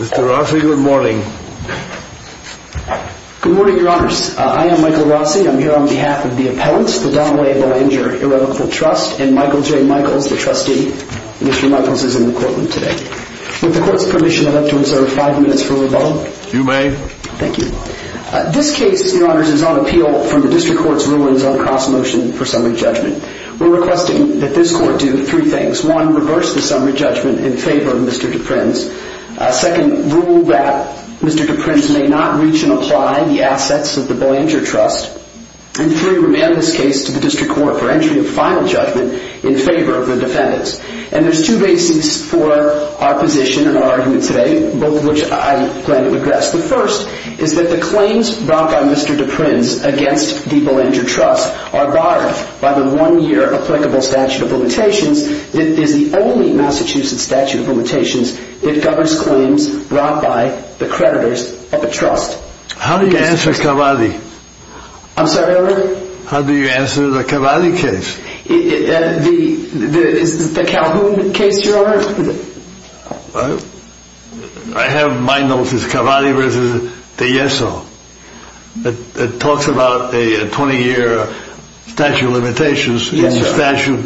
Mr. Rossi, good morning. Good morning, your honors. I am Michael Rossi. I'm here on behalf of the appellants, the Donnelly-Bellinger Irrevocable Trust, and Michael J. Michaels, the trustee. Mr. Michaels is in the courtroom today. With the court's permission, I'd like to observe five minutes for rebuttal. You may. Thank you. This case, your honors, is on appeal from the district court's rulings on cross-motion for summary judgment. We're requesting that this court do three things. One, reverse the summary judgment in favor of Mr. De Prins. Second, rule that Mr. De Prins may not reach and apply the assets of the Bellinger Trust. And three, remand this case to the district court for entry of final judgment in favor of the defendants. And there's two bases for our position and our argument today, both of which I plan to address. The first is that the claims brought by Mr. De Prins against the Bellinger Trust are borrowed by the one-year applicable statute of limitations that is the only Massachusetts statute of limitations that governs claims brought by the creditors of the trust. How do you answer Cavalli? I'm sorry, your honor? How do you answer the Cavalli case? The Calhoun case, your honor? I have my notes. It's Cavalli v. De Ieso. It talks about a 20-year statute of limitations. Yes, your honor. It's a statute,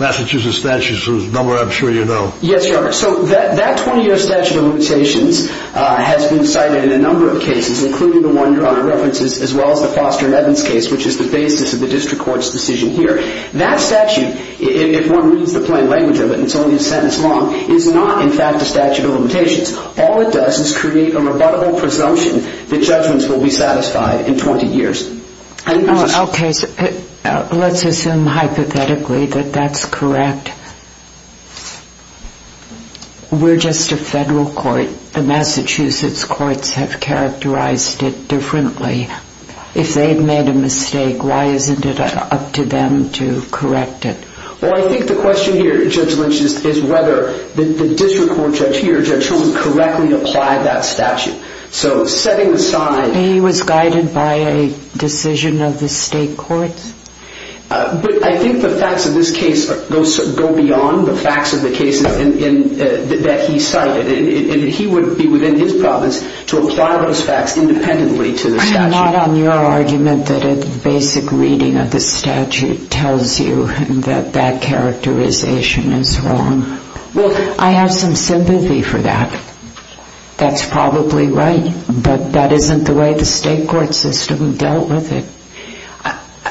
Massachusetts statute, number I'm sure you know. Yes, your honor. So that 20-year statute of limitations has been cited in a number of cases, including the one your honor references, as well as the Foster and Evans case, which is the basis of the district court's decision here. That statute, if one reads the plain language of it, and it's only a sentence long, is not in fact a statute of limitations. All it does is create a rebuttable presumption that judgments will be satisfied in 20 years. Okay, so let's assume hypothetically that that's correct. We're just a federal court. The Massachusetts courts have characterized it differently. If they've made a mistake, why isn't it up to them to correct it? Well, I think the question here, Judge Lynch, is whether the district court judge here, Judge Shulman, correctly applied that statute. So setting aside... He was guided by a decision of the state courts? But I think the facts of this case go beyond the facts of the cases that he cited. He would be within his province to apply those facts independently to the statute. I'm not on your argument that a basic reading of the statute tells you that that characterization is wrong. Well, I have some sympathy for that. That's probably right, but that isn't the way the state court system dealt with it.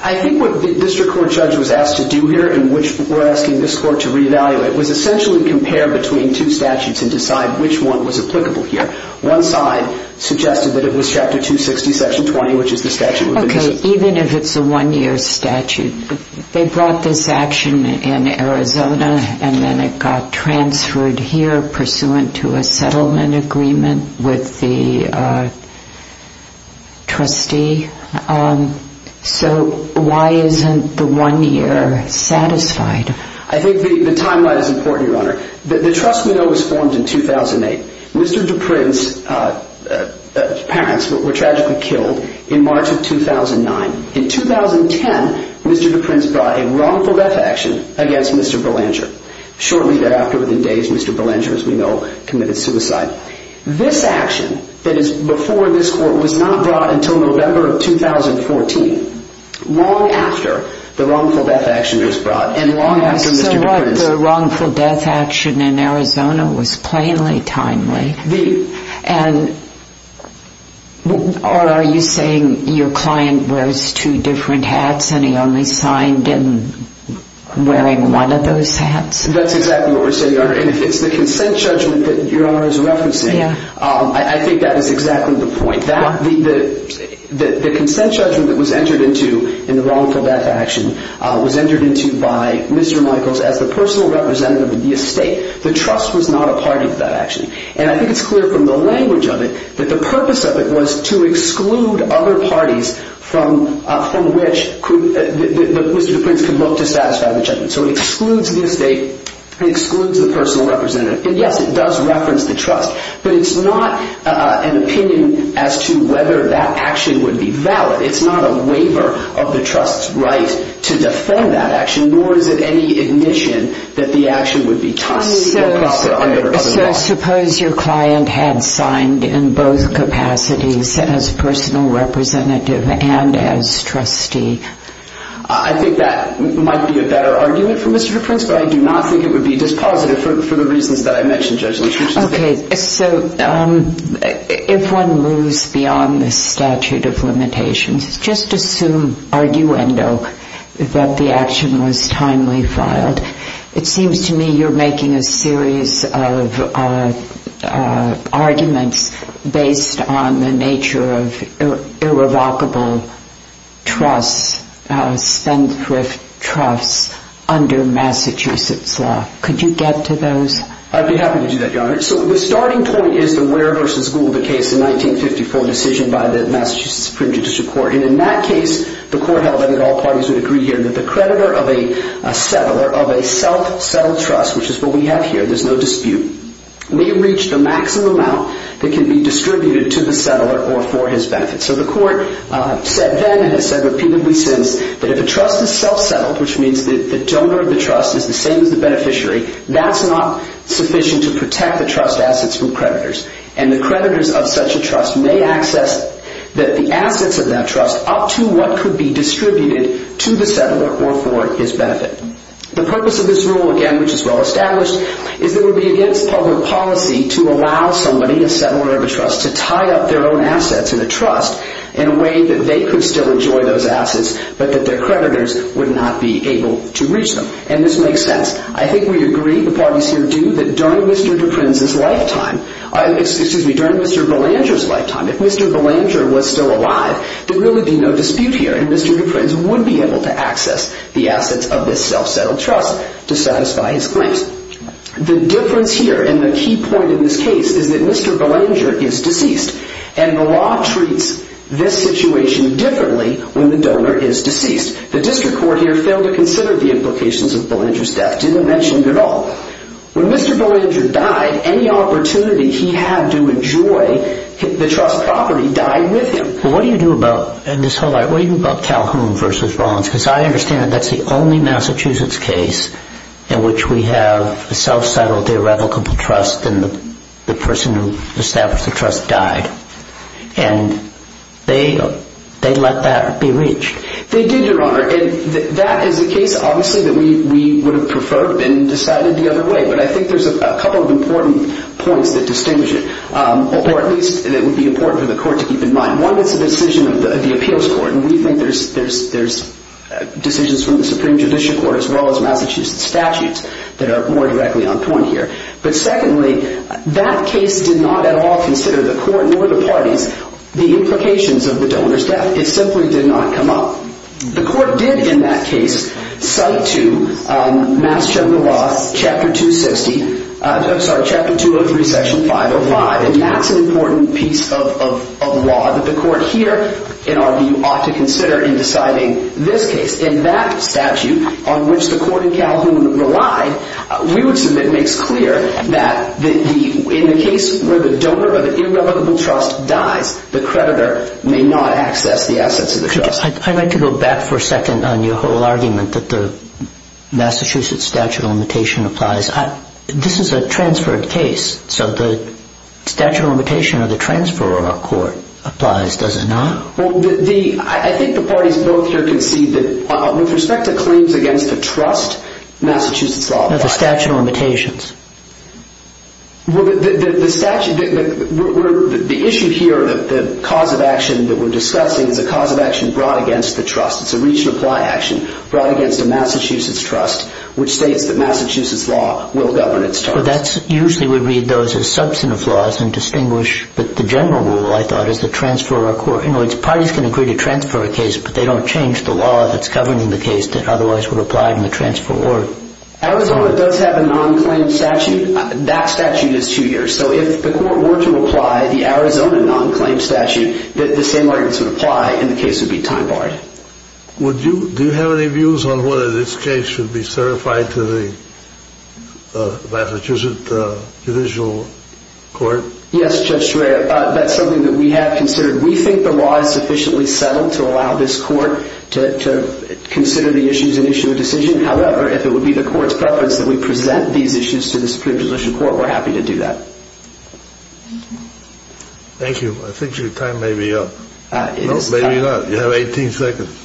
I think what the district court judge was asked to do here, in which we're asking this court to re-evaluate, was essentially compare between two statutes and decide which one was applicable here. One side suggested that it was Chapter 260, Section 20, which is the statute... Okay, even if it's a one-year statute. They brought this action in Arizona and then it got transferred here pursuant to a settlement agreement with the trustee. So why isn't the one-year satisfied? I think the timeline is important, Your Honor. The trust we know was formed in 2008. Mr. Duprin's parents were tragically killed in March of 2009. In 2010, Mr. Duprin's brought a wrongful death action against Mr. Belanger. Shortly thereafter, within days, Mr. Belanger, as we know, committed suicide. This action, that is before this court, was not brought until November of 2014, long after the wrongful death action was brought and long after Mr. Duprin's... So what, the wrongful death action was plainly timely? Or are you saying your client wears two different hats and he only signed in wearing one of those hats? That's exactly what we're saying, Your Honor. And if it's the consent judgment that Your Honor is referencing, I think that is exactly the point. The consent judgment that was entered into in the wrongful death action was entered into by Mr. Michaels as the personal representative of the estate. The trust was not a part of that action. And I think it's clear from the language of it that the purpose of it was to exclude other parties from which Mr. Duprin's could look to satisfy the judgment. So it excludes the estate, it excludes the personal representative. And yes, it does reference the trust, but it's not an opinion as to whether that action would be valid. It's not a waiver of the trust's right to defend that action, nor is it any admission that the action would be tolerated under other laws. So suppose your client had signed in both capacities as personal representative and as trustee? I think that might be a better argument for Mr. Duprin's, but I do not think it would be dispositive for the reasons that I mentioned, Judge Luttrell. Okay, so if one moves beyond the statute of limitations, just assume that the action was timely filed. It seems to me you're making a series of arguments based on the nature of irrevocable trusts, spendthrift trusts, under Massachusetts law. Could you get to those? I'd be happy to do that, Your Honor. So the starting point is the Ware v. Luttrell, the court held, and all parties would agree here, that the creditor of a settler of a self-settled trust, which is what we have here, there's no dispute, may reach the maximum amount that can be distributed to the settler or for his benefit. So the court said then, and has said repeatedly since, that if a trust is self-settled, which means that the donor of the trust is the same as the beneficiary, that's not sufficient to protect the trust assets from creditors. And the creditors of such a trust may access the assets of that trust up to what could be distributed to the settler or for his benefit. The purpose of this rule, again, which is well established, is that it would be against public policy to allow somebody, a settler of a trust, to tie up their own assets in a trust in a way that they could still enjoy those assets, but that their creditors would not be able to reach them. And this makes sense. I think we agree, the parties here do, that during Mr. DePrinz's lifetime, excuse me, during Mr. Belanger's lifetime, if Mr. Belanger was still alive, there would really be no dispute here, and Mr. DePrinz would be able to access the assets of this self-settled trust to satisfy his claims. The difference here, and the key point in this case, is that Mr. Belanger is deceased, and the law treats this situation differently when the donor is deceased. The district court here failed to consider the implications of Belanger's death, didn't mention it at all. When Mr. Belanger died, any opportunity he had to enjoy the trust property died with him. But what do you do about, in this whole, what do you do about Calhoun v. Rollins? Because I understand that that's the only Massachusetts case in which we have a self-settled irrevocable trust and the person who established the trust died, and they let that be reached. They did, Your Honor, and that is a case obviously that we would have preferred been decided the other way, but I think there's a couple of important points that distinguish it, or at least that would be important for the court to keep in mind. One is the decision of the appeals court, and we think there's decisions from the Supreme Judicial Court as well as Massachusetts statutes that are more directly on point here. But secondly, that case did not at all consider the court nor the parties, the implications of the donor's The court did in that case cite to Mass. Chunker Law, Chapter 260, I'm sorry, Chapter 203, Section 505, and that's an important piece of law that the court here in our view ought to consider in deciding this case. In that statute, on which the court in Calhoun relied, we would submit makes clear that in the case where the donor of an irrevocable trust dies, the creditor may not access the assets of the trust. I'd like to go back for a second on your whole argument that the Massachusetts statute of limitation applies. This is a transferred case, so the statute of limitation of the transfer of a court applies, does it not? I think the parties both here concede that with respect to claims against a trust, Massachusetts law applies. The statute of limitations. Well, the statute, the issue here, the cause of action that we're discussing is a cause of action brought against the trust. It's a reach and apply action brought against a Massachusetts trust, which states that Massachusetts law will govern its trust. Well, that's, usually we read those as substantive laws and distinguish that the general rule, I thought, is to transfer a court. In other words, parties can agree to transfer a case, but they don't change the law that's governing the case that otherwise would apply in the transfer order. Arizona does have a non-claim statute. That statute is two years. So if the court were to apply the Arizona non-claim statute, the same arguments would apply and the case would be time barred. Do you have any views on whether this case should be certified to the Massachusetts judicial court? Yes, Judge Schreyer. That's something that we have considered. We think the law is sufficiently settled to allow this court to consider the issues and issue a decision. However, if it would be the court's preference that we present these issues to the Supreme Judicial Court, we're happy to do that. Thank you. I think your time may be up. No, maybe not. You have 18 seconds.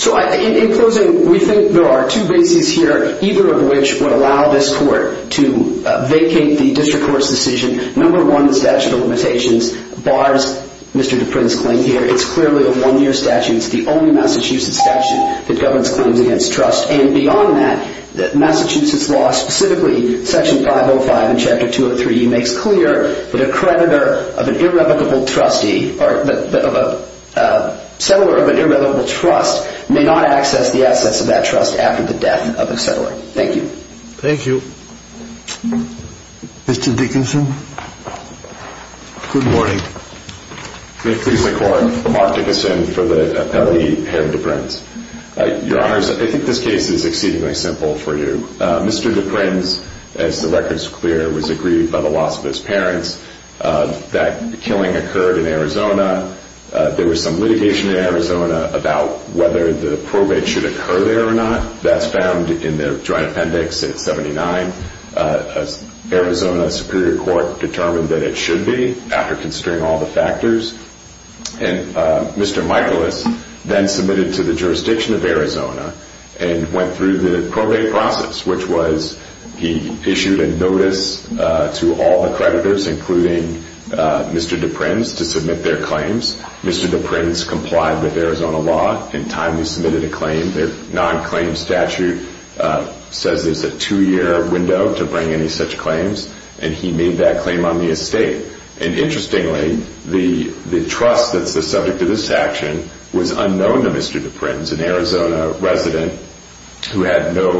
So, in closing, we think there are two bases here, either of which would allow this court to vacate the district court's decision. Number one, the statute of limitations bars Mr. Duprin's claim here. It's clearly a one-year statute. It's the only Massachusetts statute that governs claims against trust. And beyond that, Massachusetts law, specifically Section 505 and Chapter 203, makes clear that a creditor of an irrevocable trustee or a settler of an irrevocable trust may not access the assets of that trust after the death of a settler. Thank you. Thank you. Mr. Dickinson. Good morning. May it please the Court, I'm Mark Dickinson for the appellee, Harold Duprin. Your Honors, I think this case is exceedingly simple for you. Mr. Duprin's, as the record is clear, was aggrieved by the loss of his parents. That killing occurred in Arizona. There was some litigation in Arizona about whether the probate should occur there or not. That's found in the joint appendix at 79. Arizona Superior Court determined that it should be after considering all the factors. And Mr. Michaelis then submitted to the jurisdiction of Arizona and went through the probate process, which was he issued a notice to all the creditors, including Mr. Duprin's, to submit their claims. Mr. Duprin's complied with Arizona law and timely submitted a claim. Their non-claim statute says there's a two-year window to Interestingly, the trust that's the subject of this action was unknown to Mr. Duprin's, an Arizona resident who had no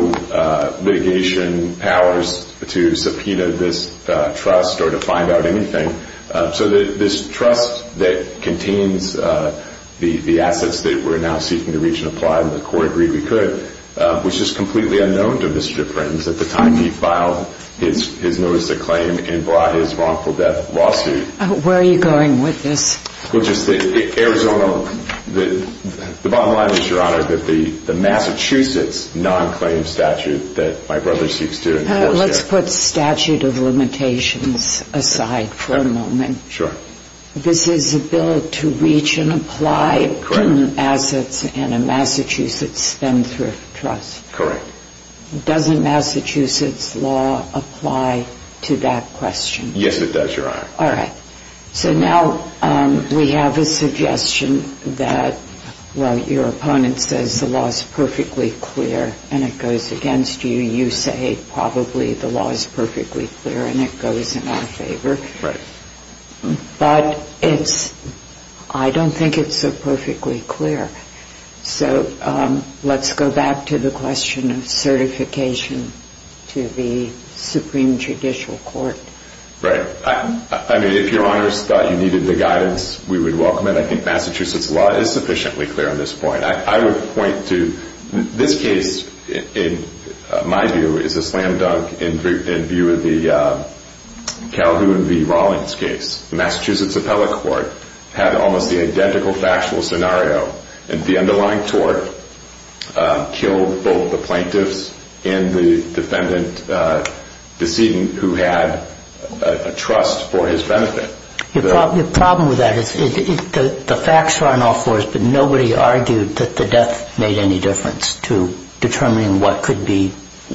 litigation powers to subpoena this trust or to find out anything. So this trust that contains the assets that we're now seeking to reach and apply, and the Court agreed we could, was just completely unknown to Mr. Duprin's at the Where are you going with this? The bottom line is, Your Honor, that the Massachusetts non-claim statute that my brother seeks to enforce there Let's put statute of limitations aside for a moment. Sure. This is a bill to reach and apply assets in a Massachusetts Spendthrift Trust. Correct. Doesn't Massachusetts law apply to that question? Yes, it does, Your Honor. All right. So now we have a suggestion that while your opponent says the law is perfectly clear and it goes against you, you say probably the law is perfectly clear and it goes in our favor. Right. But I don't think it's so perfectly clear. So let's go back to the question of certification to the Supreme Judicial Court. Right. I mean, if Your Honors thought you needed the guidance, we would welcome it. I think Massachusetts law is sufficiently clear on this point. I would point to this case, in my view, is a slam dunk in view of the Calhoun v. Rawlings case. The Massachusetts Appellate Court had almost the identical factual scenario. And the underlying tort killed both the plaintiffs and the defendant, the decedent, who had a trust for his benefit. The problem with that is the facts are on all fours, but nobody argued that the death made any difference to determining what could be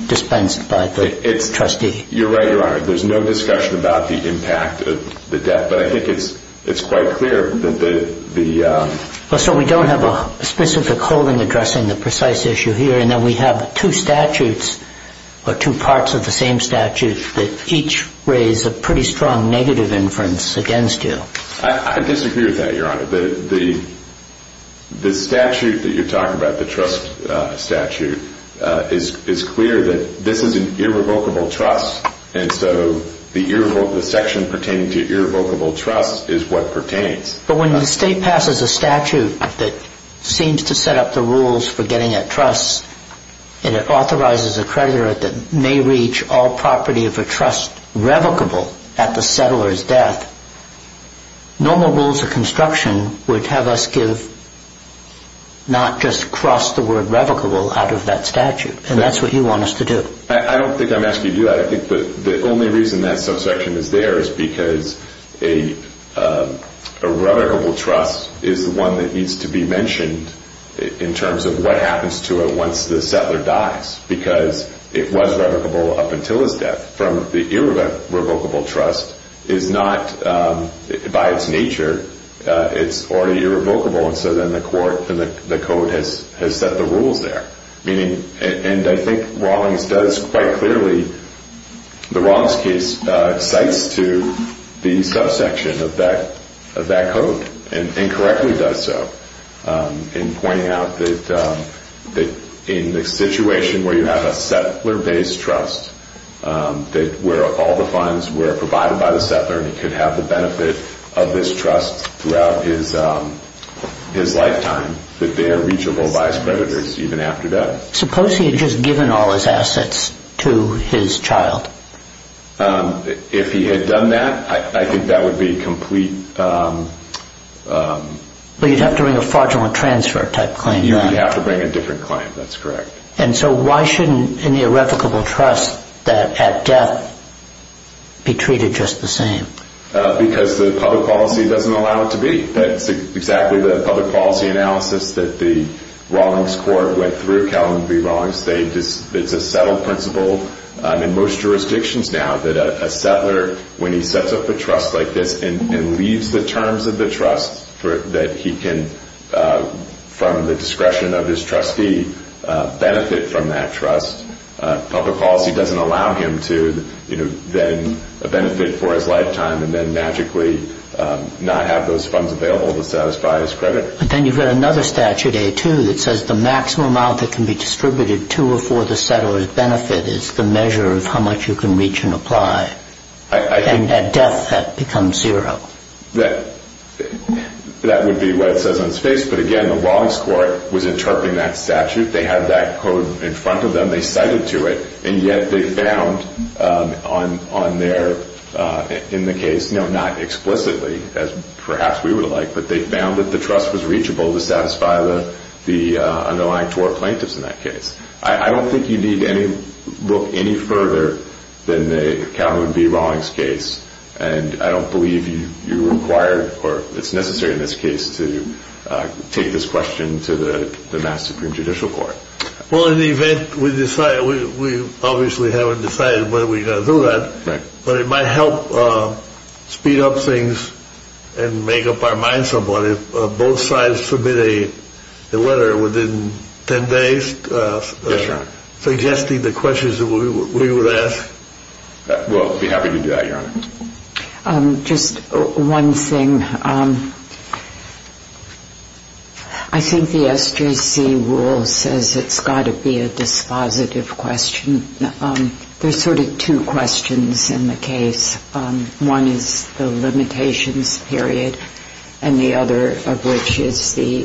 dispensed by the trustee. You're right, Your Honor. There's no discussion about the impact of the death. But I think it's quite clear that the... Well, sir, we don't have a specific holding addressing the precise issue here. And then we have two statutes, or two parts of the same statute, that each raise a pretty strong negative inference against you. I disagree with that, Your Honor. The statute that you're talking about, the trust statute, is clear that this is an irrevocable trust. And so the section pertaining to irrevocable trust is what pertains. But when the state passes a statute that seems to set up the rules for getting a trust, and it authorizes a creditor that may reach all property of a trust revocable at the settler's death, normal rules of construction would have us give not just cross the word revocable out of that statute. And that's what you want us to do. I don't think I'm asking you to do that. I think the only reason that subsection is there is because a revocable trust is the one that needs to be mentioned in terms of what happens to it once the settler dies. Because it was revocable up until his death. From the irrevocable trust is not, by its nature, it's already irrevocable. And so then the court, the code has set the rules there. And I think Rawlings does quite clearly, the subsection of that code, and correctly does so, in pointing out that in the situation where you have a settler-based trust, where all the funds were provided by the settler and he could have the benefit of this trust throughout his lifetime, that they are reachable by his creditors even after death. Suppose he had just given all his assets to his child. If he had done that, I think that would be complete... You'd have to bring a fraudulent transfer type claim. You would have to bring a different claim. That's correct. And so why shouldn't any irrevocable trust that at death be treated just the same? Because the public policy doesn't allow it to be. That's exactly the public policy analysis that the Rawlings court went through, Calum B. Rawlings. It's a settled principle. In most jurisdictions now that a settler, when he sets up a trust like this and leaves the terms of the trust that he can, from the discretion of his trustee, benefit from that trust, public policy doesn't allow him to then benefit for his lifetime and then magically not have those funds available to satisfy his credit. But then you've got another statute, A2, that says the maximum amount that can be is the measure of how much you can reach and apply. And at death that becomes zero. That would be what it says on its face. But again, the Rawlings court was interpreting that statute. They had that code in front of them. They cited to it. And yet they found on their, in the case, not explicitly as perhaps we would like, but they found that the trust was reachable to satisfy the underlying tort plaintiffs in that case. I don't think you need any look any further than the Calum B. Rawlings case. And I don't believe you required or it's necessary in this case to take this question to the Mass Supreme Judicial Court. Well, in the event we decide, we obviously haven't decided whether we're going to do that. Right. But it might help speed up things and make up our minds about it. Would both sides submit a letter within 10 days? Yes, Your Honor. Suggesting the questions that we would ask? We'll be happy to do that, Your Honor. Just one thing. I think the SJC rule says it's got to be a dispositive question. There's sort of two questions in the case. One is the limitations period and the other of which is the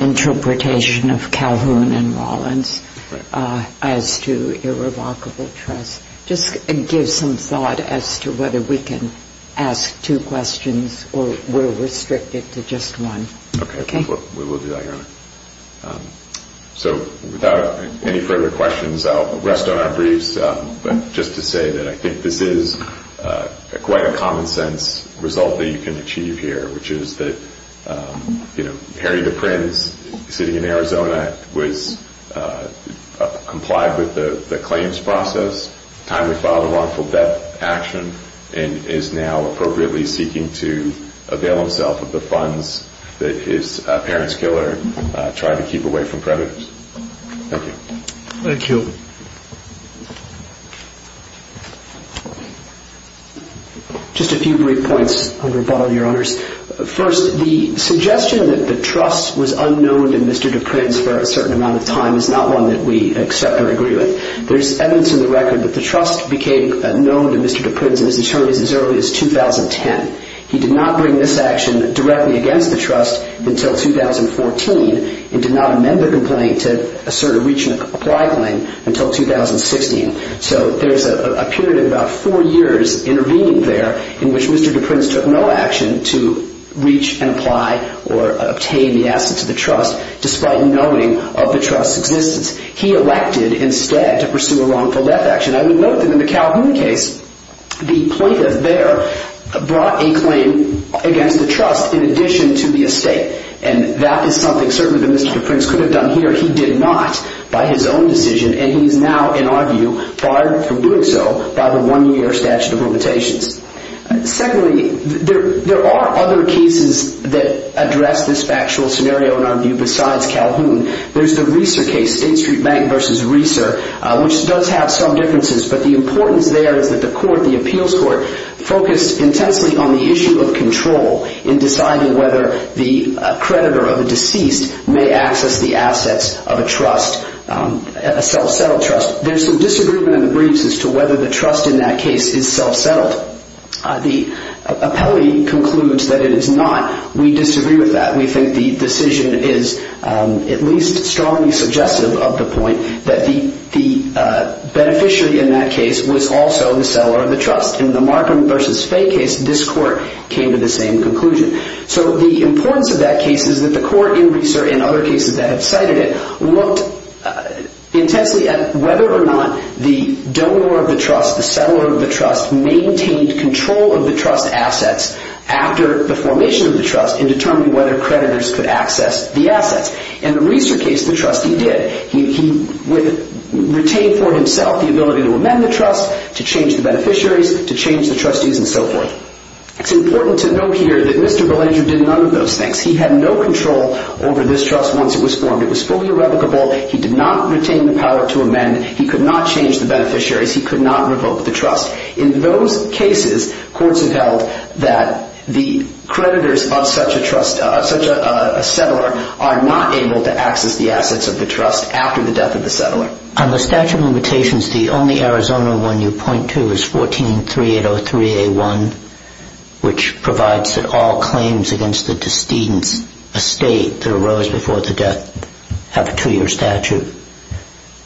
interpretation of Calhoun and Rawlings as to irrevocable trust. Just give some thought as to whether we can ask two questions or we're restricted to just one. We will do that, Your Honor. So without any further questions, I'll rest on our briefs. But just to say that I think this is quite a common-sense result that you can achieve here, which is that Harry the Prince, sitting in Arizona, was complied with the claims process, timely filed a wrongful death action, and is now appropriately seeking to avail himself of the funds that his parents' killer tried to keep away from predators. Thank you. Just a few brief points, Your Honor. First, the suggestion that the trust was unknown to Mr. de Prince for a certain amount of time is not one that we accept or agree with. There's evidence in the record that the trust became known to Mr. de Prince and his attorneys as early as 2010. He did not bring this action directly against the trust until 2014 and did not amend the complaint to assert a reach-and-apply claim until 2016. So there's a period of about four years intervening there in which Mr. de Prince took no action to reach and apply or obtain the assets of the trust, despite knowing of the trust's existence. He elected instead to pursue a wrongful death action. I would note that in the Calhoun case, the plaintiff there brought a claim against the trust in addition to the estate. And that is something, certainly, that Mr. de Prince could have done here. He did not by his own decision, and he is now, in our view, barred from doing so by the one-year statute of limitations. Secondly, there are other cases that address this factual scenario, in our view, besides Calhoun. There's the Reeser case, State Street Bank v. Reeser, which does have some differences, but the importance there is that the court, the appeals court, focused intensely on the issue of control in deciding whether the creditor of a deceased may access the assets of a trust, a self-settled trust. There's some disagreement in the briefs as to whether the trust in that case is self-settled. The appellee concludes that it is not. We disagree with that. We think the decision is at least strongly suggestive of the point that the beneficiary in that case was also the settler of the trust. In the Markham v. Fay case, this court came to the same conclusion. So the importance of that case is that the court in Reeser, and other cases that have cited it, looked intensely at whether or not the donor of the trust, the settler of the trust, maintained control of the trust assets after the formation of the trust in determining whether creditors could access the assets. In the Reeser case, the trust, he did. He retained for himself the ability to amend the trust, to change the beneficiaries, to change the trustees, and so forth. It's important to note here that Mr. Belanger did none of those things. He had no control over this trust once it was formed. It was fully irrevocable. He did not retain the power to amend. He could not change the beneficiaries. He could not revoke the trust. In those cases, courts have held that the creditors of such a trust, On the statute of limitations, the only Arizona one you point to is 14-3803-A1, which provides that all claims against the decedent's estate that arose before the death have a two-year statute.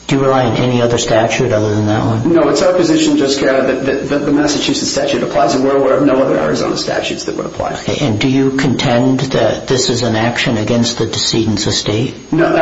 Do you rely on any other statute other than that one? No, it's our position, Joe Scarra, that the Massachusetts statute applies, and we're aware of no other Arizona statutes that would apply. And do you contend that this is an action against the decedent's estate? No.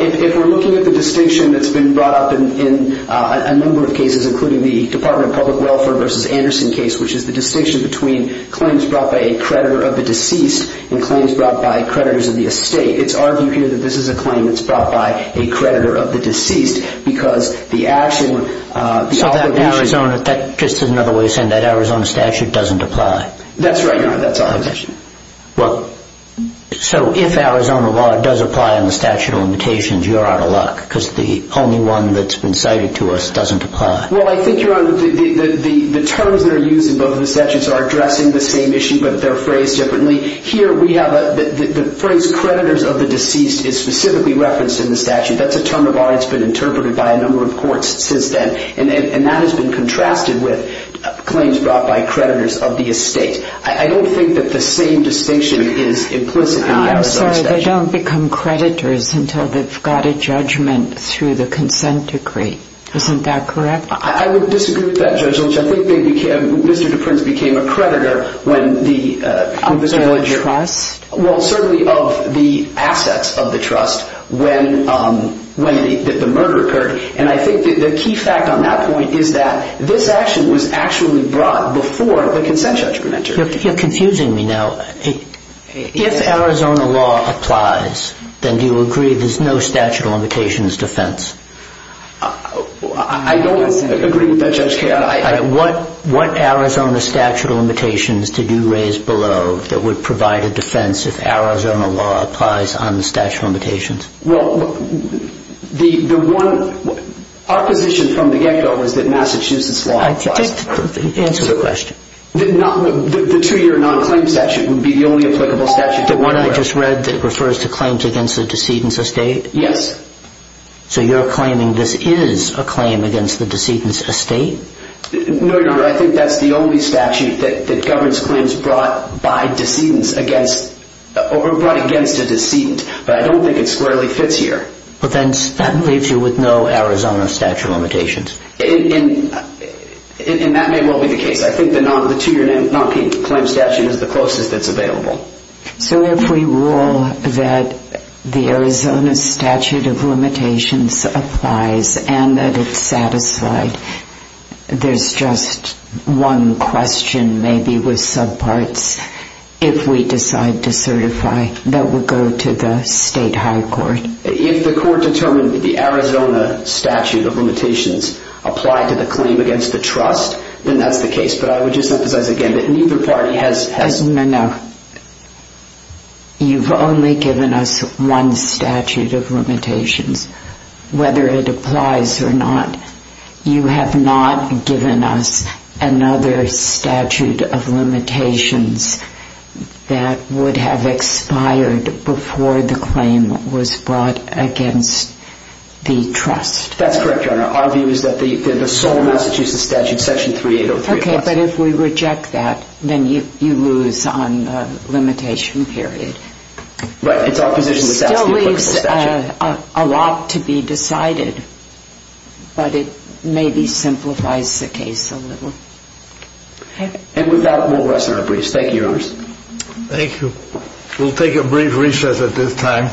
If we're looking at the distinction that's been brought up in a number of cases, including the Department of Public Welfare v. Anderson case, which is the distinction between claims brought by a creditor of the deceased and claims brought by creditors of the estate, it's our view here that this is a claim that's brought by a creditor of the deceased because the action, the obligation... So that Arizona, just another way of saying that Arizona statute doesn't apply. That's right, Your Honor. That's our position. So if Arizona law does apply in the statute of limitations, you're out of luck because the only one that's been cited to us doesn't apply. Well, I think, Your Honor, the terms that are used in both of the statutes are addressing the same issue but they're phrased differently. Here we have the phrase creditors of the deceased is specifically referenced in the statute. That's a term of art that's been interpreted by a number of courts since then, and that has been contrasted with claims brought by creditors of the estate. I don't think that the same distinction is implicit in the Arizona statute. I'm sorry. They don't become creditors until they've got a judgment through the consent decree. Isn't that correct? I would disagree with that, Judge Lynch. I think Mr. DePrince became a creditor when the... Of the trust? Well, certainly of the assets of the trust when the murder occurred, and I think the key fact on that point is that this action was actually brought before the consent judgment. You're confusing me now. If Arizona law applies, then do you agree there's no statute of limitations defense? I don't agree with that, Judge Kagan. What Arizona statute of limitations did you raise below that would provide a defense if Arizona law applies on the statute of limitations? Well, the one opposition from the get-go is that Massachusetts law applies. Answer the question. The two-year non-claim statute would be the only applicable statute. The one I just read that refers to claims against the decedent's estate? Yes. So you're claiming this is a claim against the decedent's estate? No, Your Honor. I think that's the only statute that governs claims brought by decedents against or brought against a decedent, but I don't think it squarely fits here. Well, then that leaves you with no Arizona statute of limitations. And that may well be the case. I think the two-year non-claim statute is the closest that's available. So if we rule that the Arizona statute of limitations applies and that it's satisfied, there's just one question maybe with subparts if we decide to certify that would go to the state high court. If the court determined that the Arizona statute of limitations applied to the claim against the trust, then that's the case. But I would just emphasize again that neither party has... No, no. You've only given us one statute of limitations. Whether it applies or not, you have not given us another statute of limitations that would have expired before the claim was brought against the trust. That's correct, Your Honor. Our view is that the sole Massachusetts statute, Section 3803... Okay, but if we reject that, then you lose on the limitation period. Right, it's our position that that's the applicable statute. It still leaves a lot to be decided, but it maybe simplifies the case a little. And with that, we'll rest our briefs. Thank you, Your Honors. Thank you. We'll take a brief recess at this time.